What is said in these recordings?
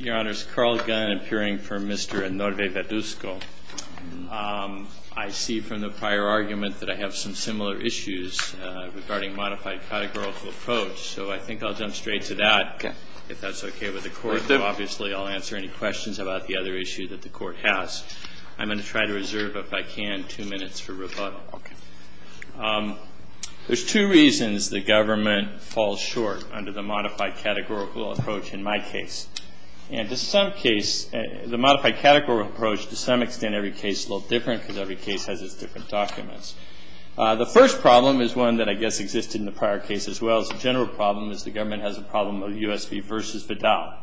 Your Honor, it's Carl Gunn appearing for Mr. Anorve-Verduzco. I see from the prior argument that I have some similar issues regarding modified categorical approach, so I think I'll jump straight to that, if that's okay with the Court. Obviously, I'll answer any questions about the other issue that the Court has. I'm going to try to reserve, if I can, two minutes for rebuttal. There's two reasons the government falls short under the modified categorical approach in my case. The modified categorical approach, to some extent, every case is a little different because every case has its different documents. The first problem is one that I guess existed in the prior case as well as a general problem, is the government has a problem of U.S. v. Vidal.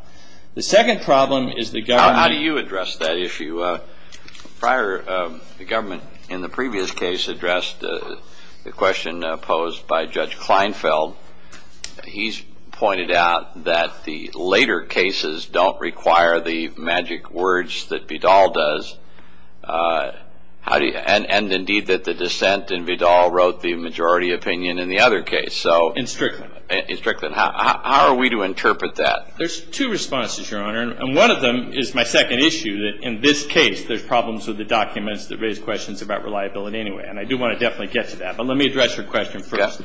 How do you address that issue? The government in the previous case addressed the question posed by Judge Kleinfeld. He's pointed out that the later cases don't require the magic words that Vidal does, and indeed that the dissent in Vidal wrote the majority opinion in the other case. In Strickland. In Strickland. How are we to interpret that? There's two responses, Your Honor. And one of them is my second issue, that in this case, there's problems with the documents that raise questions about reliability anyway. And I do want to definitely get to that. But let me address your question first.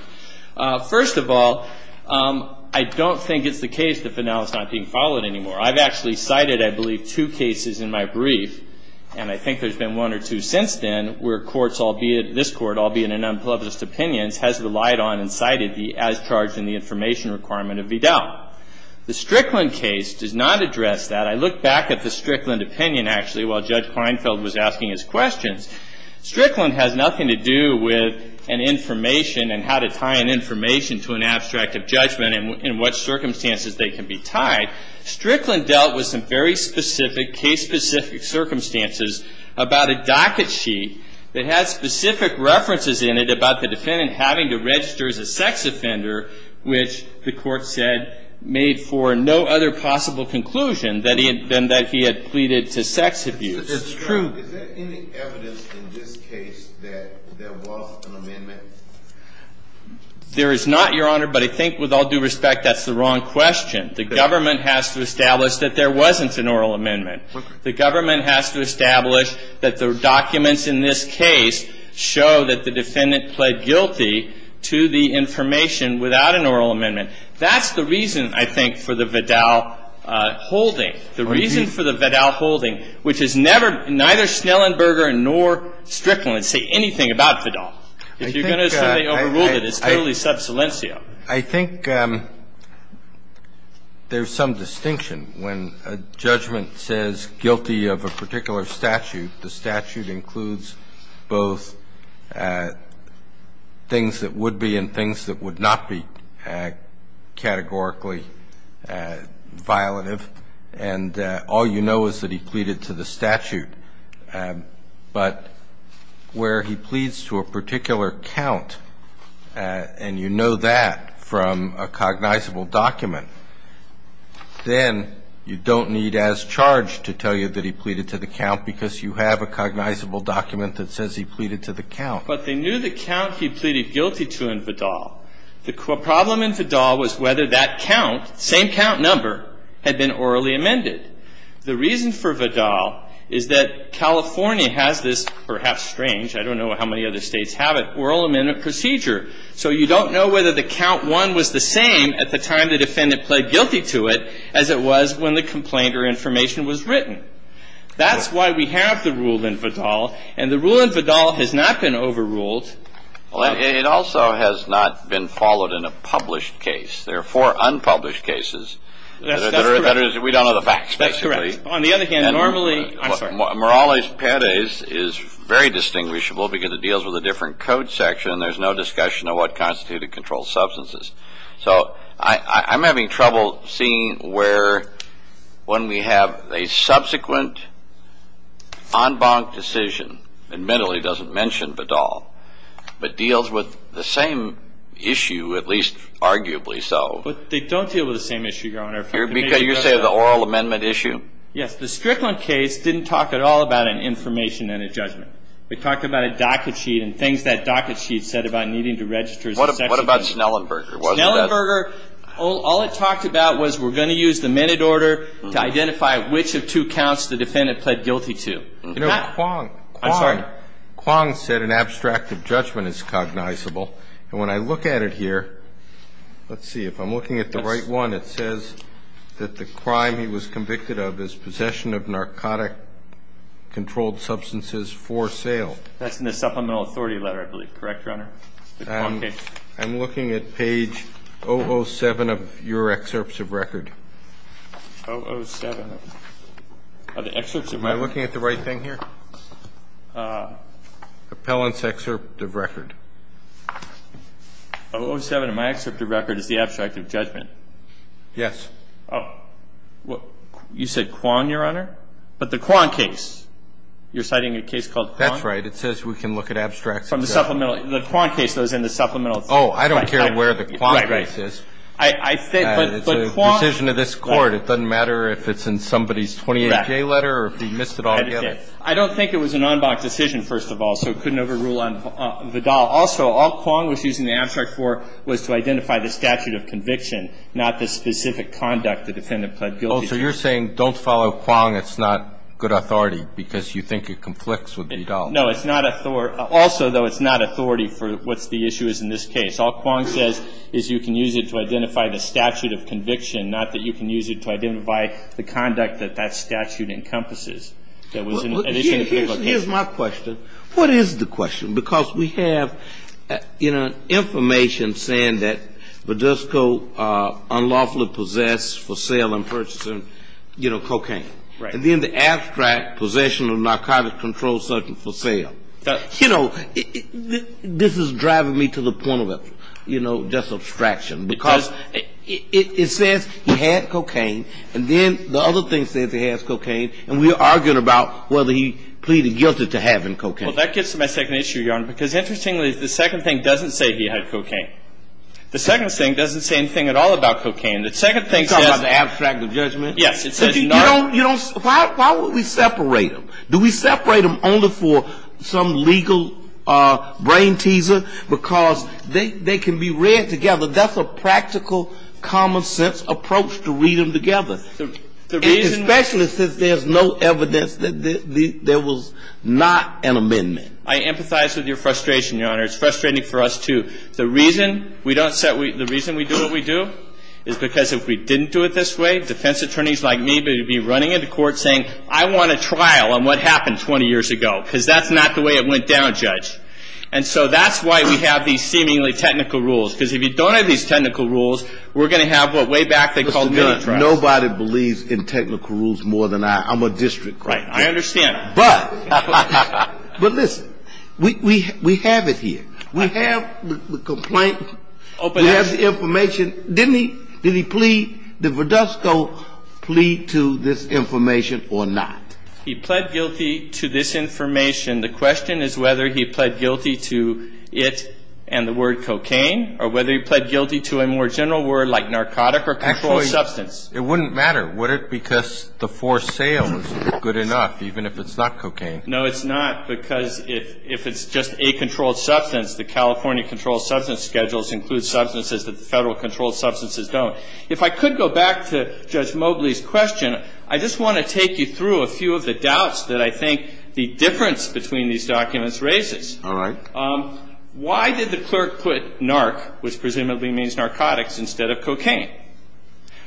Okay. First of all, I don't think it's the case that Vidal is not being followed anymore. I've actually cited, I believe, two cases in my brief, and I think there's been one or two since then, where courts, albeit this Court, albeit in unpleasant opinions, has relied on and cited the as-charged-in-the-information requirement of Vidal. Now, the Strickland case does not address that. I look back at the Strickland opinion, actually, while Judge Kleinfeld was asking his questions. Strickland has nothing to do with an information and how to tie an information to an abstract of judgment and what circumstances they can be tied. Strickland dealt with some very specific, case-specific circumstances about a docket sheet that has specific references in it about the defendant having to register as a sex offender, which the Court said made for no other possible conclusion than that he had pleaded to sex abuse. That's true. Is there any evidence in this case that there was an amendment? There is not, Your Honor, but I think with all due respect, that's the wrong question. The government has to establish that there wasn't an oral amendment. Okay. The government has to establish that the documents in this case show that the defendant pled guilty to the information without an oral amendment. That's the reason, I think, for the Vidal holding. The reason for the Vidal holding, which is never ñ neither Schnellenberger nor Strickland say anything about Vidal. If you're going to say they overruled it, it's totally sub silencio. I think there's some distinction. When a judgment says guilty of a particular statute, the statute includes both things that would be and things that would not be categorically violative. And all you know is that he pleaded to the statute. But where he pleads to a particular count, and you know that from a cognizable document, then you don't need as charge to tell you that he pleaded to the count because you have a cognizable document that says he pleaded to the count. But they knew the count he pleaded guilty to in Vidal. The problem in Vidal was whether that count, same count number, had been orally amended. The reason for Vidal is that California has this perhaps strange ñ I don't know how many other states have it ñ oral amendment procedure. So you don't know whether the count one was the same at the time the defendant pled guilty to it as it was when the complaint or information was written. That's why we have the rule in Vidal. And the rule in Vidal has not been overruled. It also has not been followed in a published case. There are four unpublished cases. That's correct. We don't know the facts, basically. That's correct. On the other hand, normally ñ I'm sorry. Morales-Perez is very distinguishable because it deals with a different code section, and there's no discussion of what constituted controlled substances. So I'm having trouble seeing where when we have a subsequent en banc decision, and mentally doesn't mention Vidal, but deals with the same issue, at least arguably so. But they don't deal with the same issue, Your Honor. You're saying the oral amendment issue? Yes. The Strickland case didn't talk at all about an information and a judgment. It talked about a docket sheet and things that docket sheet said about needing to register as aÖ What about Snellenberger? Snellenberger, all it talked about was we're going to use the minute order to identify which of two counts the defendant pled guilty to. You know, Kwong said an abstract of judgment is cognizable. And when I look at it here, let's see, if I'm looking at the right one, it says that the crime he was convicted of is possession of narcotic controlled substances for sale. That's in the supplemental authority letter, I believe. Correct, Your Honor? The Kwong case. I'm looking at page 007 of your excerpts of record. 007 of the excerpts of record. Am I looking at the right thing here? Appellant's excerpt of record. 007 of my excerpt of record is the abstract of judgment. Yes. Oh. You said Kwong, Your Honor? But the Kwong case. You're citing a case called Kwong? That's right. It says we can look at abstracts of judgment. From the supplemental. The Kwong case, though, is in the supplemental. Oh, I don't care where the Kwong case is. Right, right. It's a decision of this Court. It doesn't matter if it's in somebody's 28-K letter or if he missed it altogether. I don't think it was an en banc decision, first of all, so it couldn't overrule Vidal. Also, all Kwong was using the abstract for was to identify the statute of conviction, not the specific conduct the defendant pled guilty to. Oh, so you're saying don't follow Kwong. It's not good authority because you think it conflicts with Vidal. No, it's not authority. Also, though, it's not authority for what the issue is in this case. All Kwong says is you can use it to identify the statute of conviction, not that you can use it to identify the conduct that that statute encompasses. Here's my question. What is the question? Because we have, you know, information saying that Vidisco unlawfully possessed for sale and purchasing, you know, cocaine. Right. And then the abstract, possession of narcotic controlled substance for sale. You know, this is driving me to the point of, you know, just abstraction. Because it says he had cocaine, and then the other thing says he has cocaine, and we're arguing about whether he pleaded guilty to having cocaine. Well, that gets to my second issue, Your Honor, because interestingly, the second thing doesn't say he had cocaine. The second thing doesn't say anything at all about cocaine. The second thing says. You're talking about the abstract of judgment? Yes. You don't. Why would we separate them? Do we separate them only for some legal brain teaser? Because they can be read together. That's a practical, common-sense approach to read them together. The reason. Especially since there's no evidence that there was not an amendment. I empathize with your frustration, Your Honor. It's frustrating for us, too. The reason we don't set we – the reason we do what we do is because if we didn't do it this way, defense attorneys like me would be running into court saying, I want a trial on what happened 20 years ago, because that's not the way it went down, Judge. And so that's why we have these seemingly technical rules, because if you don't have these technical rules, we're going to have what way back they called mini-trials. Nobody believes in technical rules more than I. I'm a district court judge. Right. I understand. But. But listen. We have it here. We have the complaint. We have the information. Didn't he? Did he plead? Did Verdusco plead to this information or not? He pled guilty to this information. The question is whether he pled guilty to it and the word cocaine, or whether he pled guilty to a more general word like narcotic or controlled substance. Actually, it wouldn't matter, would it, because the for sale is good enough, even if it's not cocaine. No, it's not, because if it's just a controlled substance, the California controlled substance schedules include substances that the Federal controlled substances don't. If I could go back to Judge Mobley's question, I just want to take you through a few of the doubts that I think the difference between these documents raises. All right. Why did the clerk put narc, which presumably means narcotics, instead of cocaine?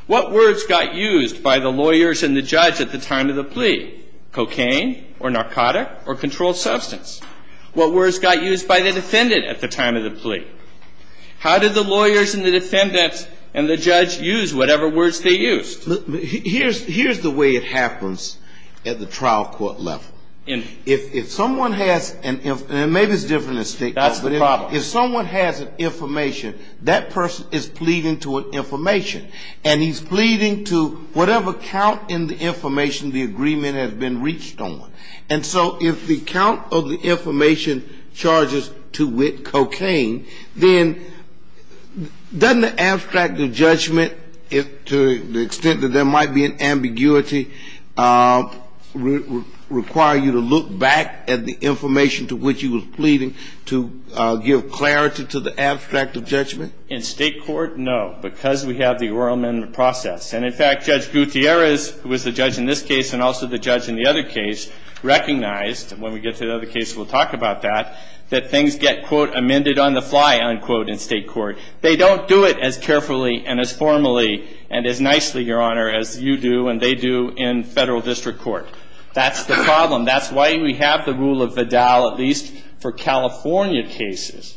What words got used by the lawyers and the judge at the time of the plea? Cocaine or narcotic or controlled substance? What words got used by the defendant at the time of the plea? How did the lawyers and the defendants and the judge use whatever words they used? Here's the way it happens at the trial court level. If someone has an, and maybe it's different than state law. That's the problem. If someone has an information, that person is pleading to an information, and he's pleading to whatever count in the information the agreement has been reached on. And so if the count of the information charges to cocaine, then doesn't the abstract of judgment, to the extent that there might be an ambiguity, require you to look back at the information to which you were pleading to give clarity to the abstract of judgment? In state court, no, because we have the oral amendment process. And in fact, Judge Gutierrez, who was the judge in this case and also the judge in the other case, recognized, and when we get to the other case we'll talk about that, that things get, quote, amended on the fly, unquote, in state court. They don't do it as carefully and as formally and as nicely, Your Honor, as you do and they do in federal district court. That's the problem. That's why we have the rule of Vidal, at least for California cases.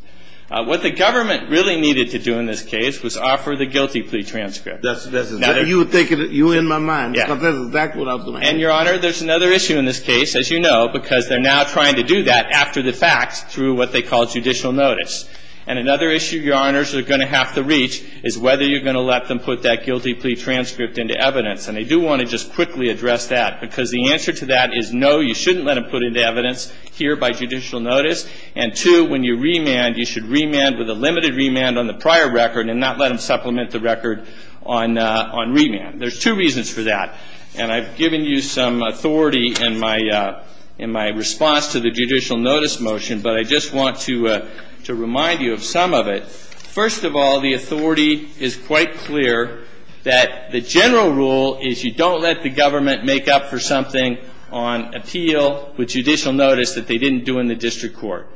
What the government really needed to do in this case was offer the guilty plea transcript. That's a matter of fact. You're in my mind, because that's exactly what I was going to ask. And, Your Honor, there's another issue in this case, as you know, because they're now trying to do that after the fact through what they call judicial notice. And another issue, Your Honors, they're going to have to reach is whether you're going to let them put that guilty plea transcript into evidence. And I do want to just quickly address that, because the answer to that is no, you shouldn't let them put it into evidence here by judicial notice. And two, when you remand, you should remand with a limited remand on the prior record and not let them supplement the record on remand. There's two reasons for that. And I've given you some authority in my response to the judicial notice motion, but I just want to remind you of some of it. First of all, the authority is quite clear that the general rule is you don't let the government make up for something on appeal with judicial notice that they didn't do in the district court.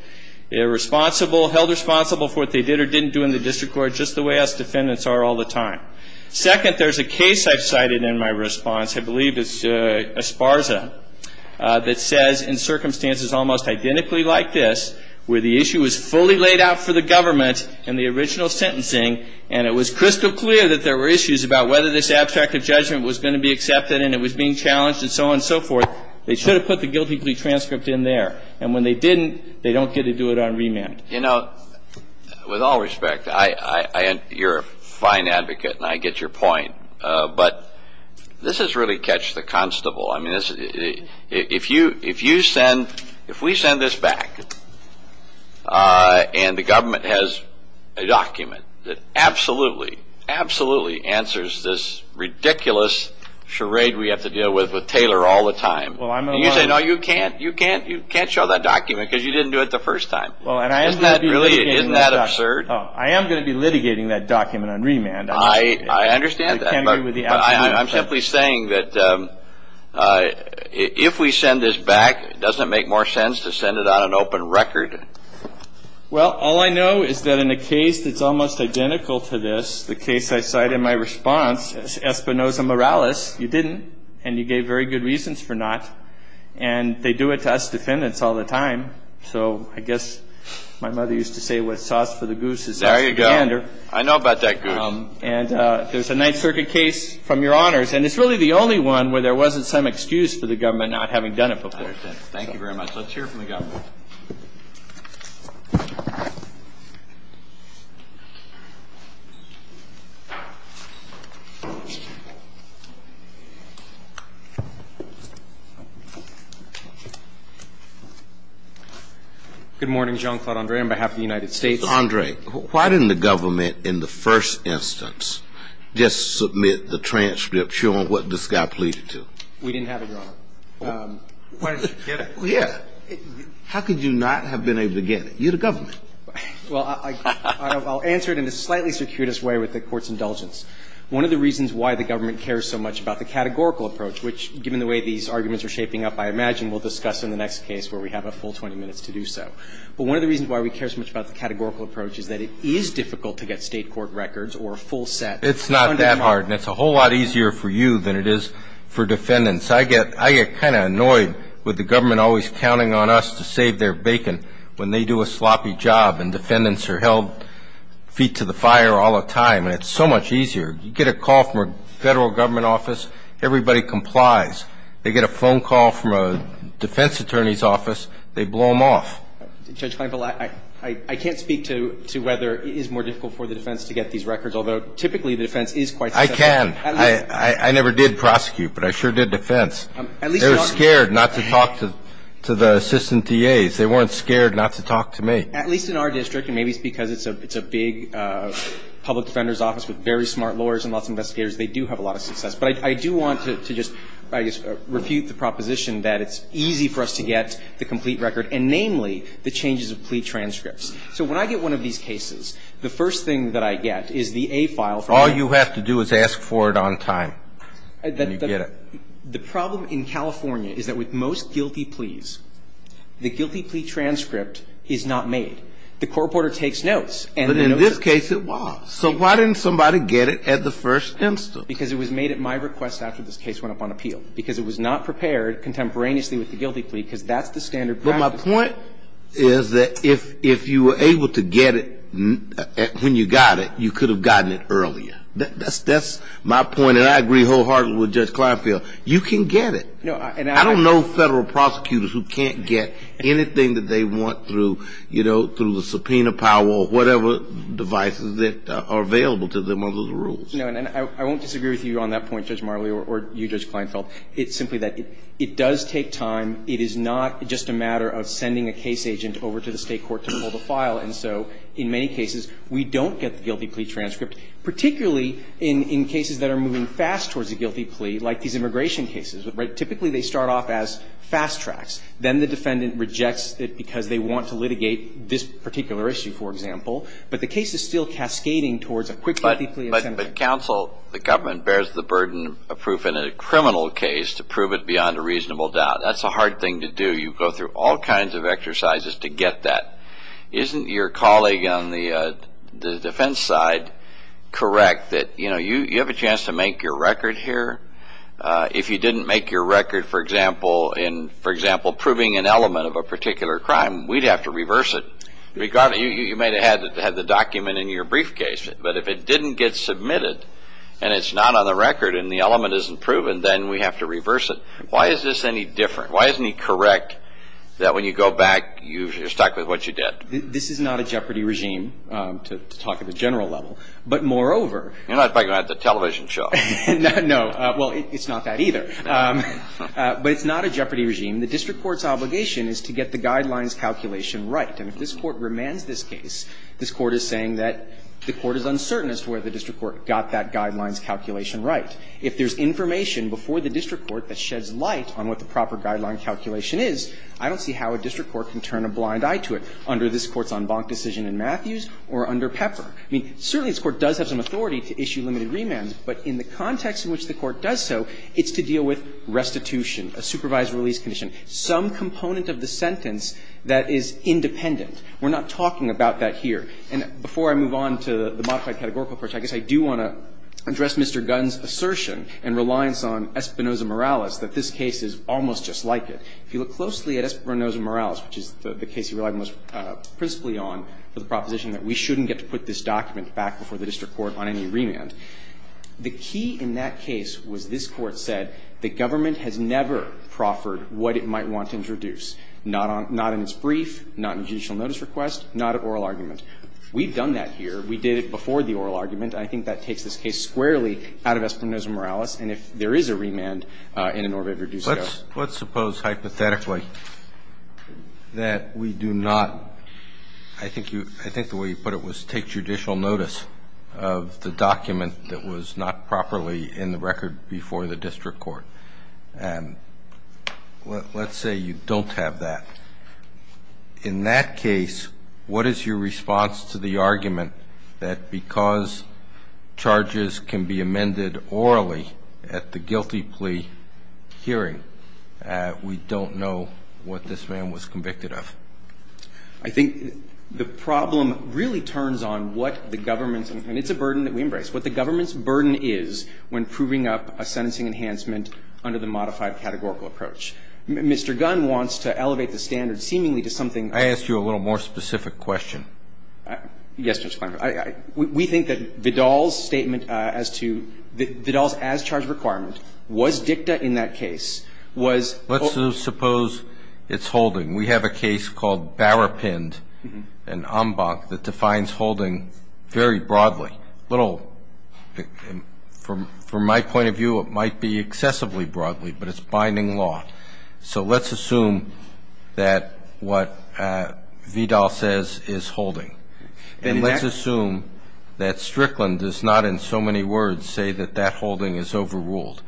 They're responsible, held responsible for what they did or didn't do in the district court, just the way us defendants are all the time. Second, there's a case I've cited in my response, I believe it's Esparza, that says in circumstances almost identically like this, where the issue is fully laid out for the government in the original sentencing and it was crystal clear that there were issues about whether this abstract of judgment was going to be accepted and it was being challenged and so on and so forth, they should have put the guilty plea transcript in there. And when they didn't, they don't get to do it on remand. You know, with all respect, you're a fine advocate and I get your point, but this has really catched the constable. I mean, if we send this back and the government has a document that absolutely, absolutely answers this ridiculous charade we have to deal with with Taylor all the time, and you say, no, you can't show that document because you didn't do it the first time. Isn't that absurd? I am going to be litigating that document on remand. I understand that, but I'm simply saying that if we send this back, it doesn't make more sense to send it on an open record. Well, all I know is that in a case that's almost identical to this, the case I cite in my response, Espinoza-Morales, you didn't, and you gave very good reasons for not, and they do it to us defendants all the time. So I guess my mother used to say, what's sauce for the goose is actually the hander. There you go. I know about that goose. And there's a Ninth Circuit case from your honors, and it's really the only one where there wasn't some excuse for the government not having done it before. I understand. Thank you very much. Let's hear from the government. Good morning. John Claude Andre on behalf of the United States. Andre, why didn't the government in the first instance just submit the transcript showing what this guy pleaded to? We didn't have it, Your Honor. Why didn't you get it? Well, yeah. How could you not have been able to get it? You're the government. Well, I'll answer it in the slightly circuitous way with the Court's indulgence. One of the reasons why the government cares so much about the categorical approach, which given the way these arguments are shaping up, I imagine we'll discuss in the next case where we have a full 20 minutes to do so. But one of the reasons why we care so much about the categorical approach is that it is difficult to get State court records or a full set. It's not that hard, and it's a whole lot easier for you than it is for defendants. I get kind of annoyed with the government always counting on us to save their bacon when they do a sloppy job and defendants are held feet to the fire all the time, and it's so much easier. You get a call from a Federal government office, everybody complies. They get a phone call from a defense attorney's office, they blow them off. Judge Kleinfeld, I can't speak to whether it is more difficult for the defense to get these records, although typically the defense is quite successful. I can. I never did prosecute, but I sure did defense. They were scared not to talk to the assistant DAs. They weren't scared not to talk to me. At least in our district, and maybe it's because it's a big public defender's office with very smart lawyers and lots of investigators, they do have a lot of success. But I do want to just, I guess, refute the proposition that it's easy for us to get the complete record, and namely the changes of plea transcripts. So when I get one of these cases, the first thing that I get is the A file from the And you get it. The problem in California is that with most guilty pleas, the guilty plea transcript is not made. The court reporter takes notes. But in this case it was. So why didn't somebody get it at the first instance? Because it was made at my request after this case went up on appeal. Because it was not prepared contemporaneously with the guilty plea, because that's the standard practice. But my point is that if you were able to get it when you got it, you could have gotten it earlier. That's my point. And I agree wholeheartedly with Judge Kleinfeld. You can get it. I don't know Federal prosecutors who can't get anything that they want through, you know, through the subpoena power or whatever devices that are available to them under the rules. No. And I won't disagree with you on that point, Judge Marley, or you, Judge Kleinfeld. It's simply that it does take time. It is not just a matter of sending a case agent over to the State court to pull the file. And so in many cases, we don't get the guilty plea transcript, particularly in cases that are moving fast towards a guilty plea, like these immigration cases. Typically, they start off as fast tracks. Then the defendant rejects it because they want to litigate this particular issue, for example. But the case is still cascading towards a quick guilty plea. But counsel, the government bears the burden of proof in a criminal case to prove it beyond a reasonable doubt. That's a hard thing to do. You go through all kinds of exercises to get that. Isn't your colleague on the defense side correct that, you know, you have a chance to make your record here. If you didn't make your record, for example, in, for example, proving an element of a particular crime, we'd have to reverse it. You may have had the document in your briefcase, but if it didn't get submitted and it's not on the record and the element isn't proven, then we have to reverse it. Why is this any different? Why isn't he correct that when you go back, you're stuck with what you did? This is not a jeopardy regime, to talk at the general level. But moreover. You're not talking about the television show. No. Well, it's not that either. But it's not a jeopardy regime. The district court's obligation is to get the guidelines calculation right. And if this Court remands this case, this Court is saying that the Court is uncertain as to where the district court got that guidelines calculation right. If there's information before the district court that sheds light on what the proper guideline calculation is, I don't see how a district court can turn a blind eye to it under this Court's en banc decision in Matthews or under Pepper. I mean, certainly this Court does have some authority to issue limited remands, but in the context in which the Court does so, it's to deal with restitution, a supervised release condition, some component of the sentence that is independent. We're not talking about that here. And before I move on to the modified categorical approach, I guess I do want to address Mr. Gunn's assertion and reliance on Espinoza-Morales that this case is almost just like it. If you look closely at Espinoza-Morales, which is the case he relied most principally on for the proposition that we shouldn't get to put this document back before the district court on any remand, the key in that case was this Court said that government has never proffered what it might want to introduce, not on its brief, not in judicial notice request, not at oral argument. We've done that here. We did it before the oral argument. I think that takes this case squarely out of Espinoza-Morales, and if there is a remand in an oral review, so. Let's suppose hypothetically that we do not, I think you – I think the way you put it was take judicial notice of the document that was not properly in the record before the district court. And let's say you don't have that. In that case, what is your response to the argument that because charges can be amended orally at the guilty plea hearing, we don't know what this man was convicted of? I think the problem really turns on what the government's – and it's a burden that we embrace – what the government's burden is when proving up a sentencing enhancement under the modified categorical approach. Mr. Gunn wants to elevate the standard seemingly to something – I asked you a little more specific question. Yes, Judge Klinefeld. We think that Vidal's statement as to – Vidal's as-charged requirement was dicta in that case, was – Let's suppose it's holding. We have a case called Bauerpind and Ambach that defines holding very broadly. A little – from my point of view, it might be excessively broadly, but it's binding law. So let's assume that what Vidal says is holding. And let's assume that Strickland does not in so many words say that that holding is overruled.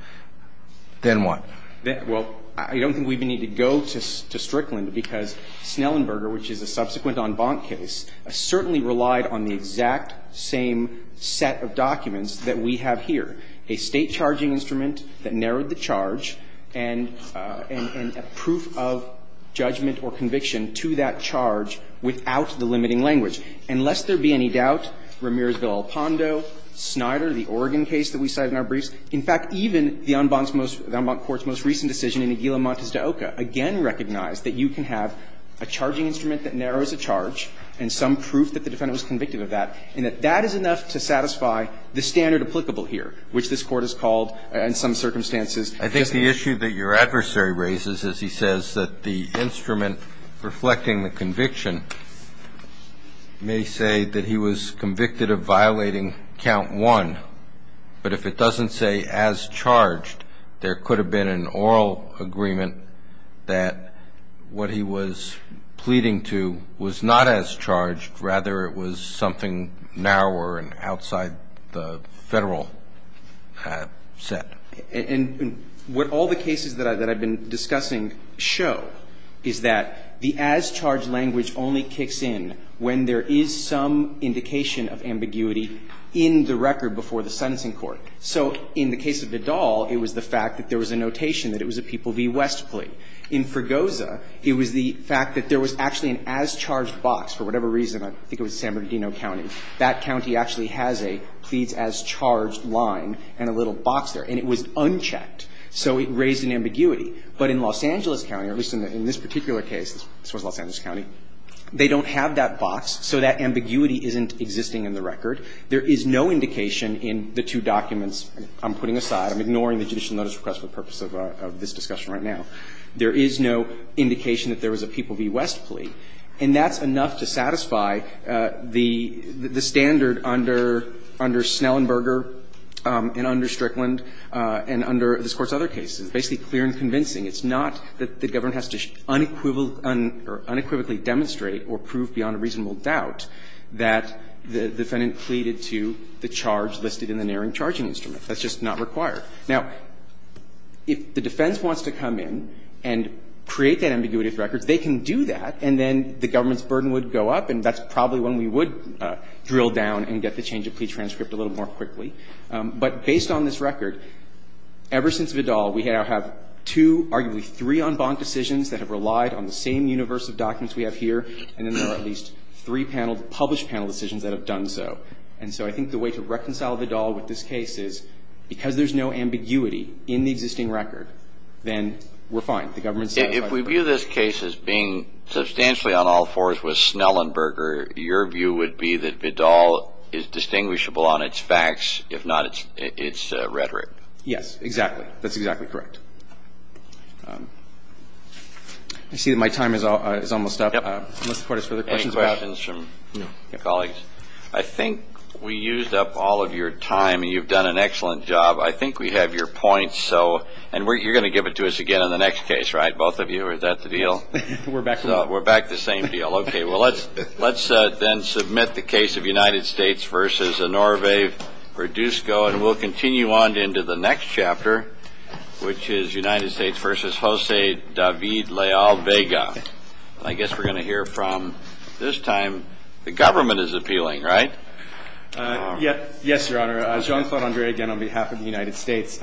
Then what? Well, I don't think we need to go to Strickland, because Snellenberger, which is a subsequent Ambach case, certainly relied on the exact same set of documents that we have here, a State charging instrument that narrowed the charge and a proof of judgment or conviction to that charge without the limiting language. And lest there be any doubt, Ramirez v. El Pondo, Snyder, the Oregon case that we cited in our briefs, in fact, even the Ambach's most – the Ambach court's most recent decision in Aguila Montes de Oca again recognized that you can have a charging instrument that narrows a charge and some proof that the defendant was convicted of that, and that that is enough to satisfy the standard applicable here, which this Court has called in some circumstances. I think the issue that your adversary raises is he says that the instrument reflecting the conviction may say that he was convicted of violating count 1, but if it doesn't say as charged, there could have been an oral agreement that what he was pleading to was not as charged, rather it was something narrower and outside the Federal set. And what all the cases that I've been discussing show is that the as-charged language only kicks in when there is some indication of ambiguity in the record before the sentencing court. So in the case of Vidal, it was the fact that there was a notation that it was a People v. West plea. In Fregosa, it was the fact that there was actually an as-charged box. For whatever reason, I think it was San Bernardino County, that county actually has a Pleads as Charged line and a little box there. And it was unchecked. So it raised an ambiguity. But in Los Angeles County, or at least in this particular case, this was Los Angeles County, they don't have that box, so that ambiguity isn't existing in the record. There is no indication in the two documents. I'm putting aside, I'm ignoring the judicial notice request for the purpose of this discussion right now. There is no indication that there was a People v. West plea. And that's enough to satisfy the standard under Snellenberger and under Strickland and under this Court's other cases. It's basically clear and convincing. It's not that the government has to unequivocally demonstrate or prove beyond a reasonable doubt that the defendant pleaded to the charge listed in the narrowing charging instrument. That's just not required. Now, if the defense wants to come in and create that ambiguity of records, they can do that, and then the government's burden would go up. And that's probably when we would drill down and get the change of plea transcript a little more quickly. But based on this record, ever since Vidal, we now have two, arguably three, en banc decisions that have relied on the same universe of documents we have here, and then there are at least three paneled, published panel decisions that have done so. And so I think the way to reconcile Vidal with this case is because there's no ambiguity in the existing record, then we're fine. The government's satisfied. Kennedy. If we view this case as being substantially on all fours with Snellenberger, your view would be that Vidal is distinguishable on its facts, if not its rhetoric. Yes, exactly. That's exactly correct. I see that my time is almost up. Yep. Unless the Court has further questions about it. Any questions from colleagues? I think we used up all of your time, and you've done an excellent job. I think we have your points. And you're going to give it to us again in the next case, right, both of you? Is that the deal? We're back to the same deal. We're back to the same deal. Okay. Well, let's then submit the case of United States v. Honoré Verdusco, and we'll continue on into the next chapter, which is United States v. José David Leal Vega. I guess we're going to hear from, this time, the government is appealing, right? Yes, Your Honor. Jean-Claude André again on behalf of the United States.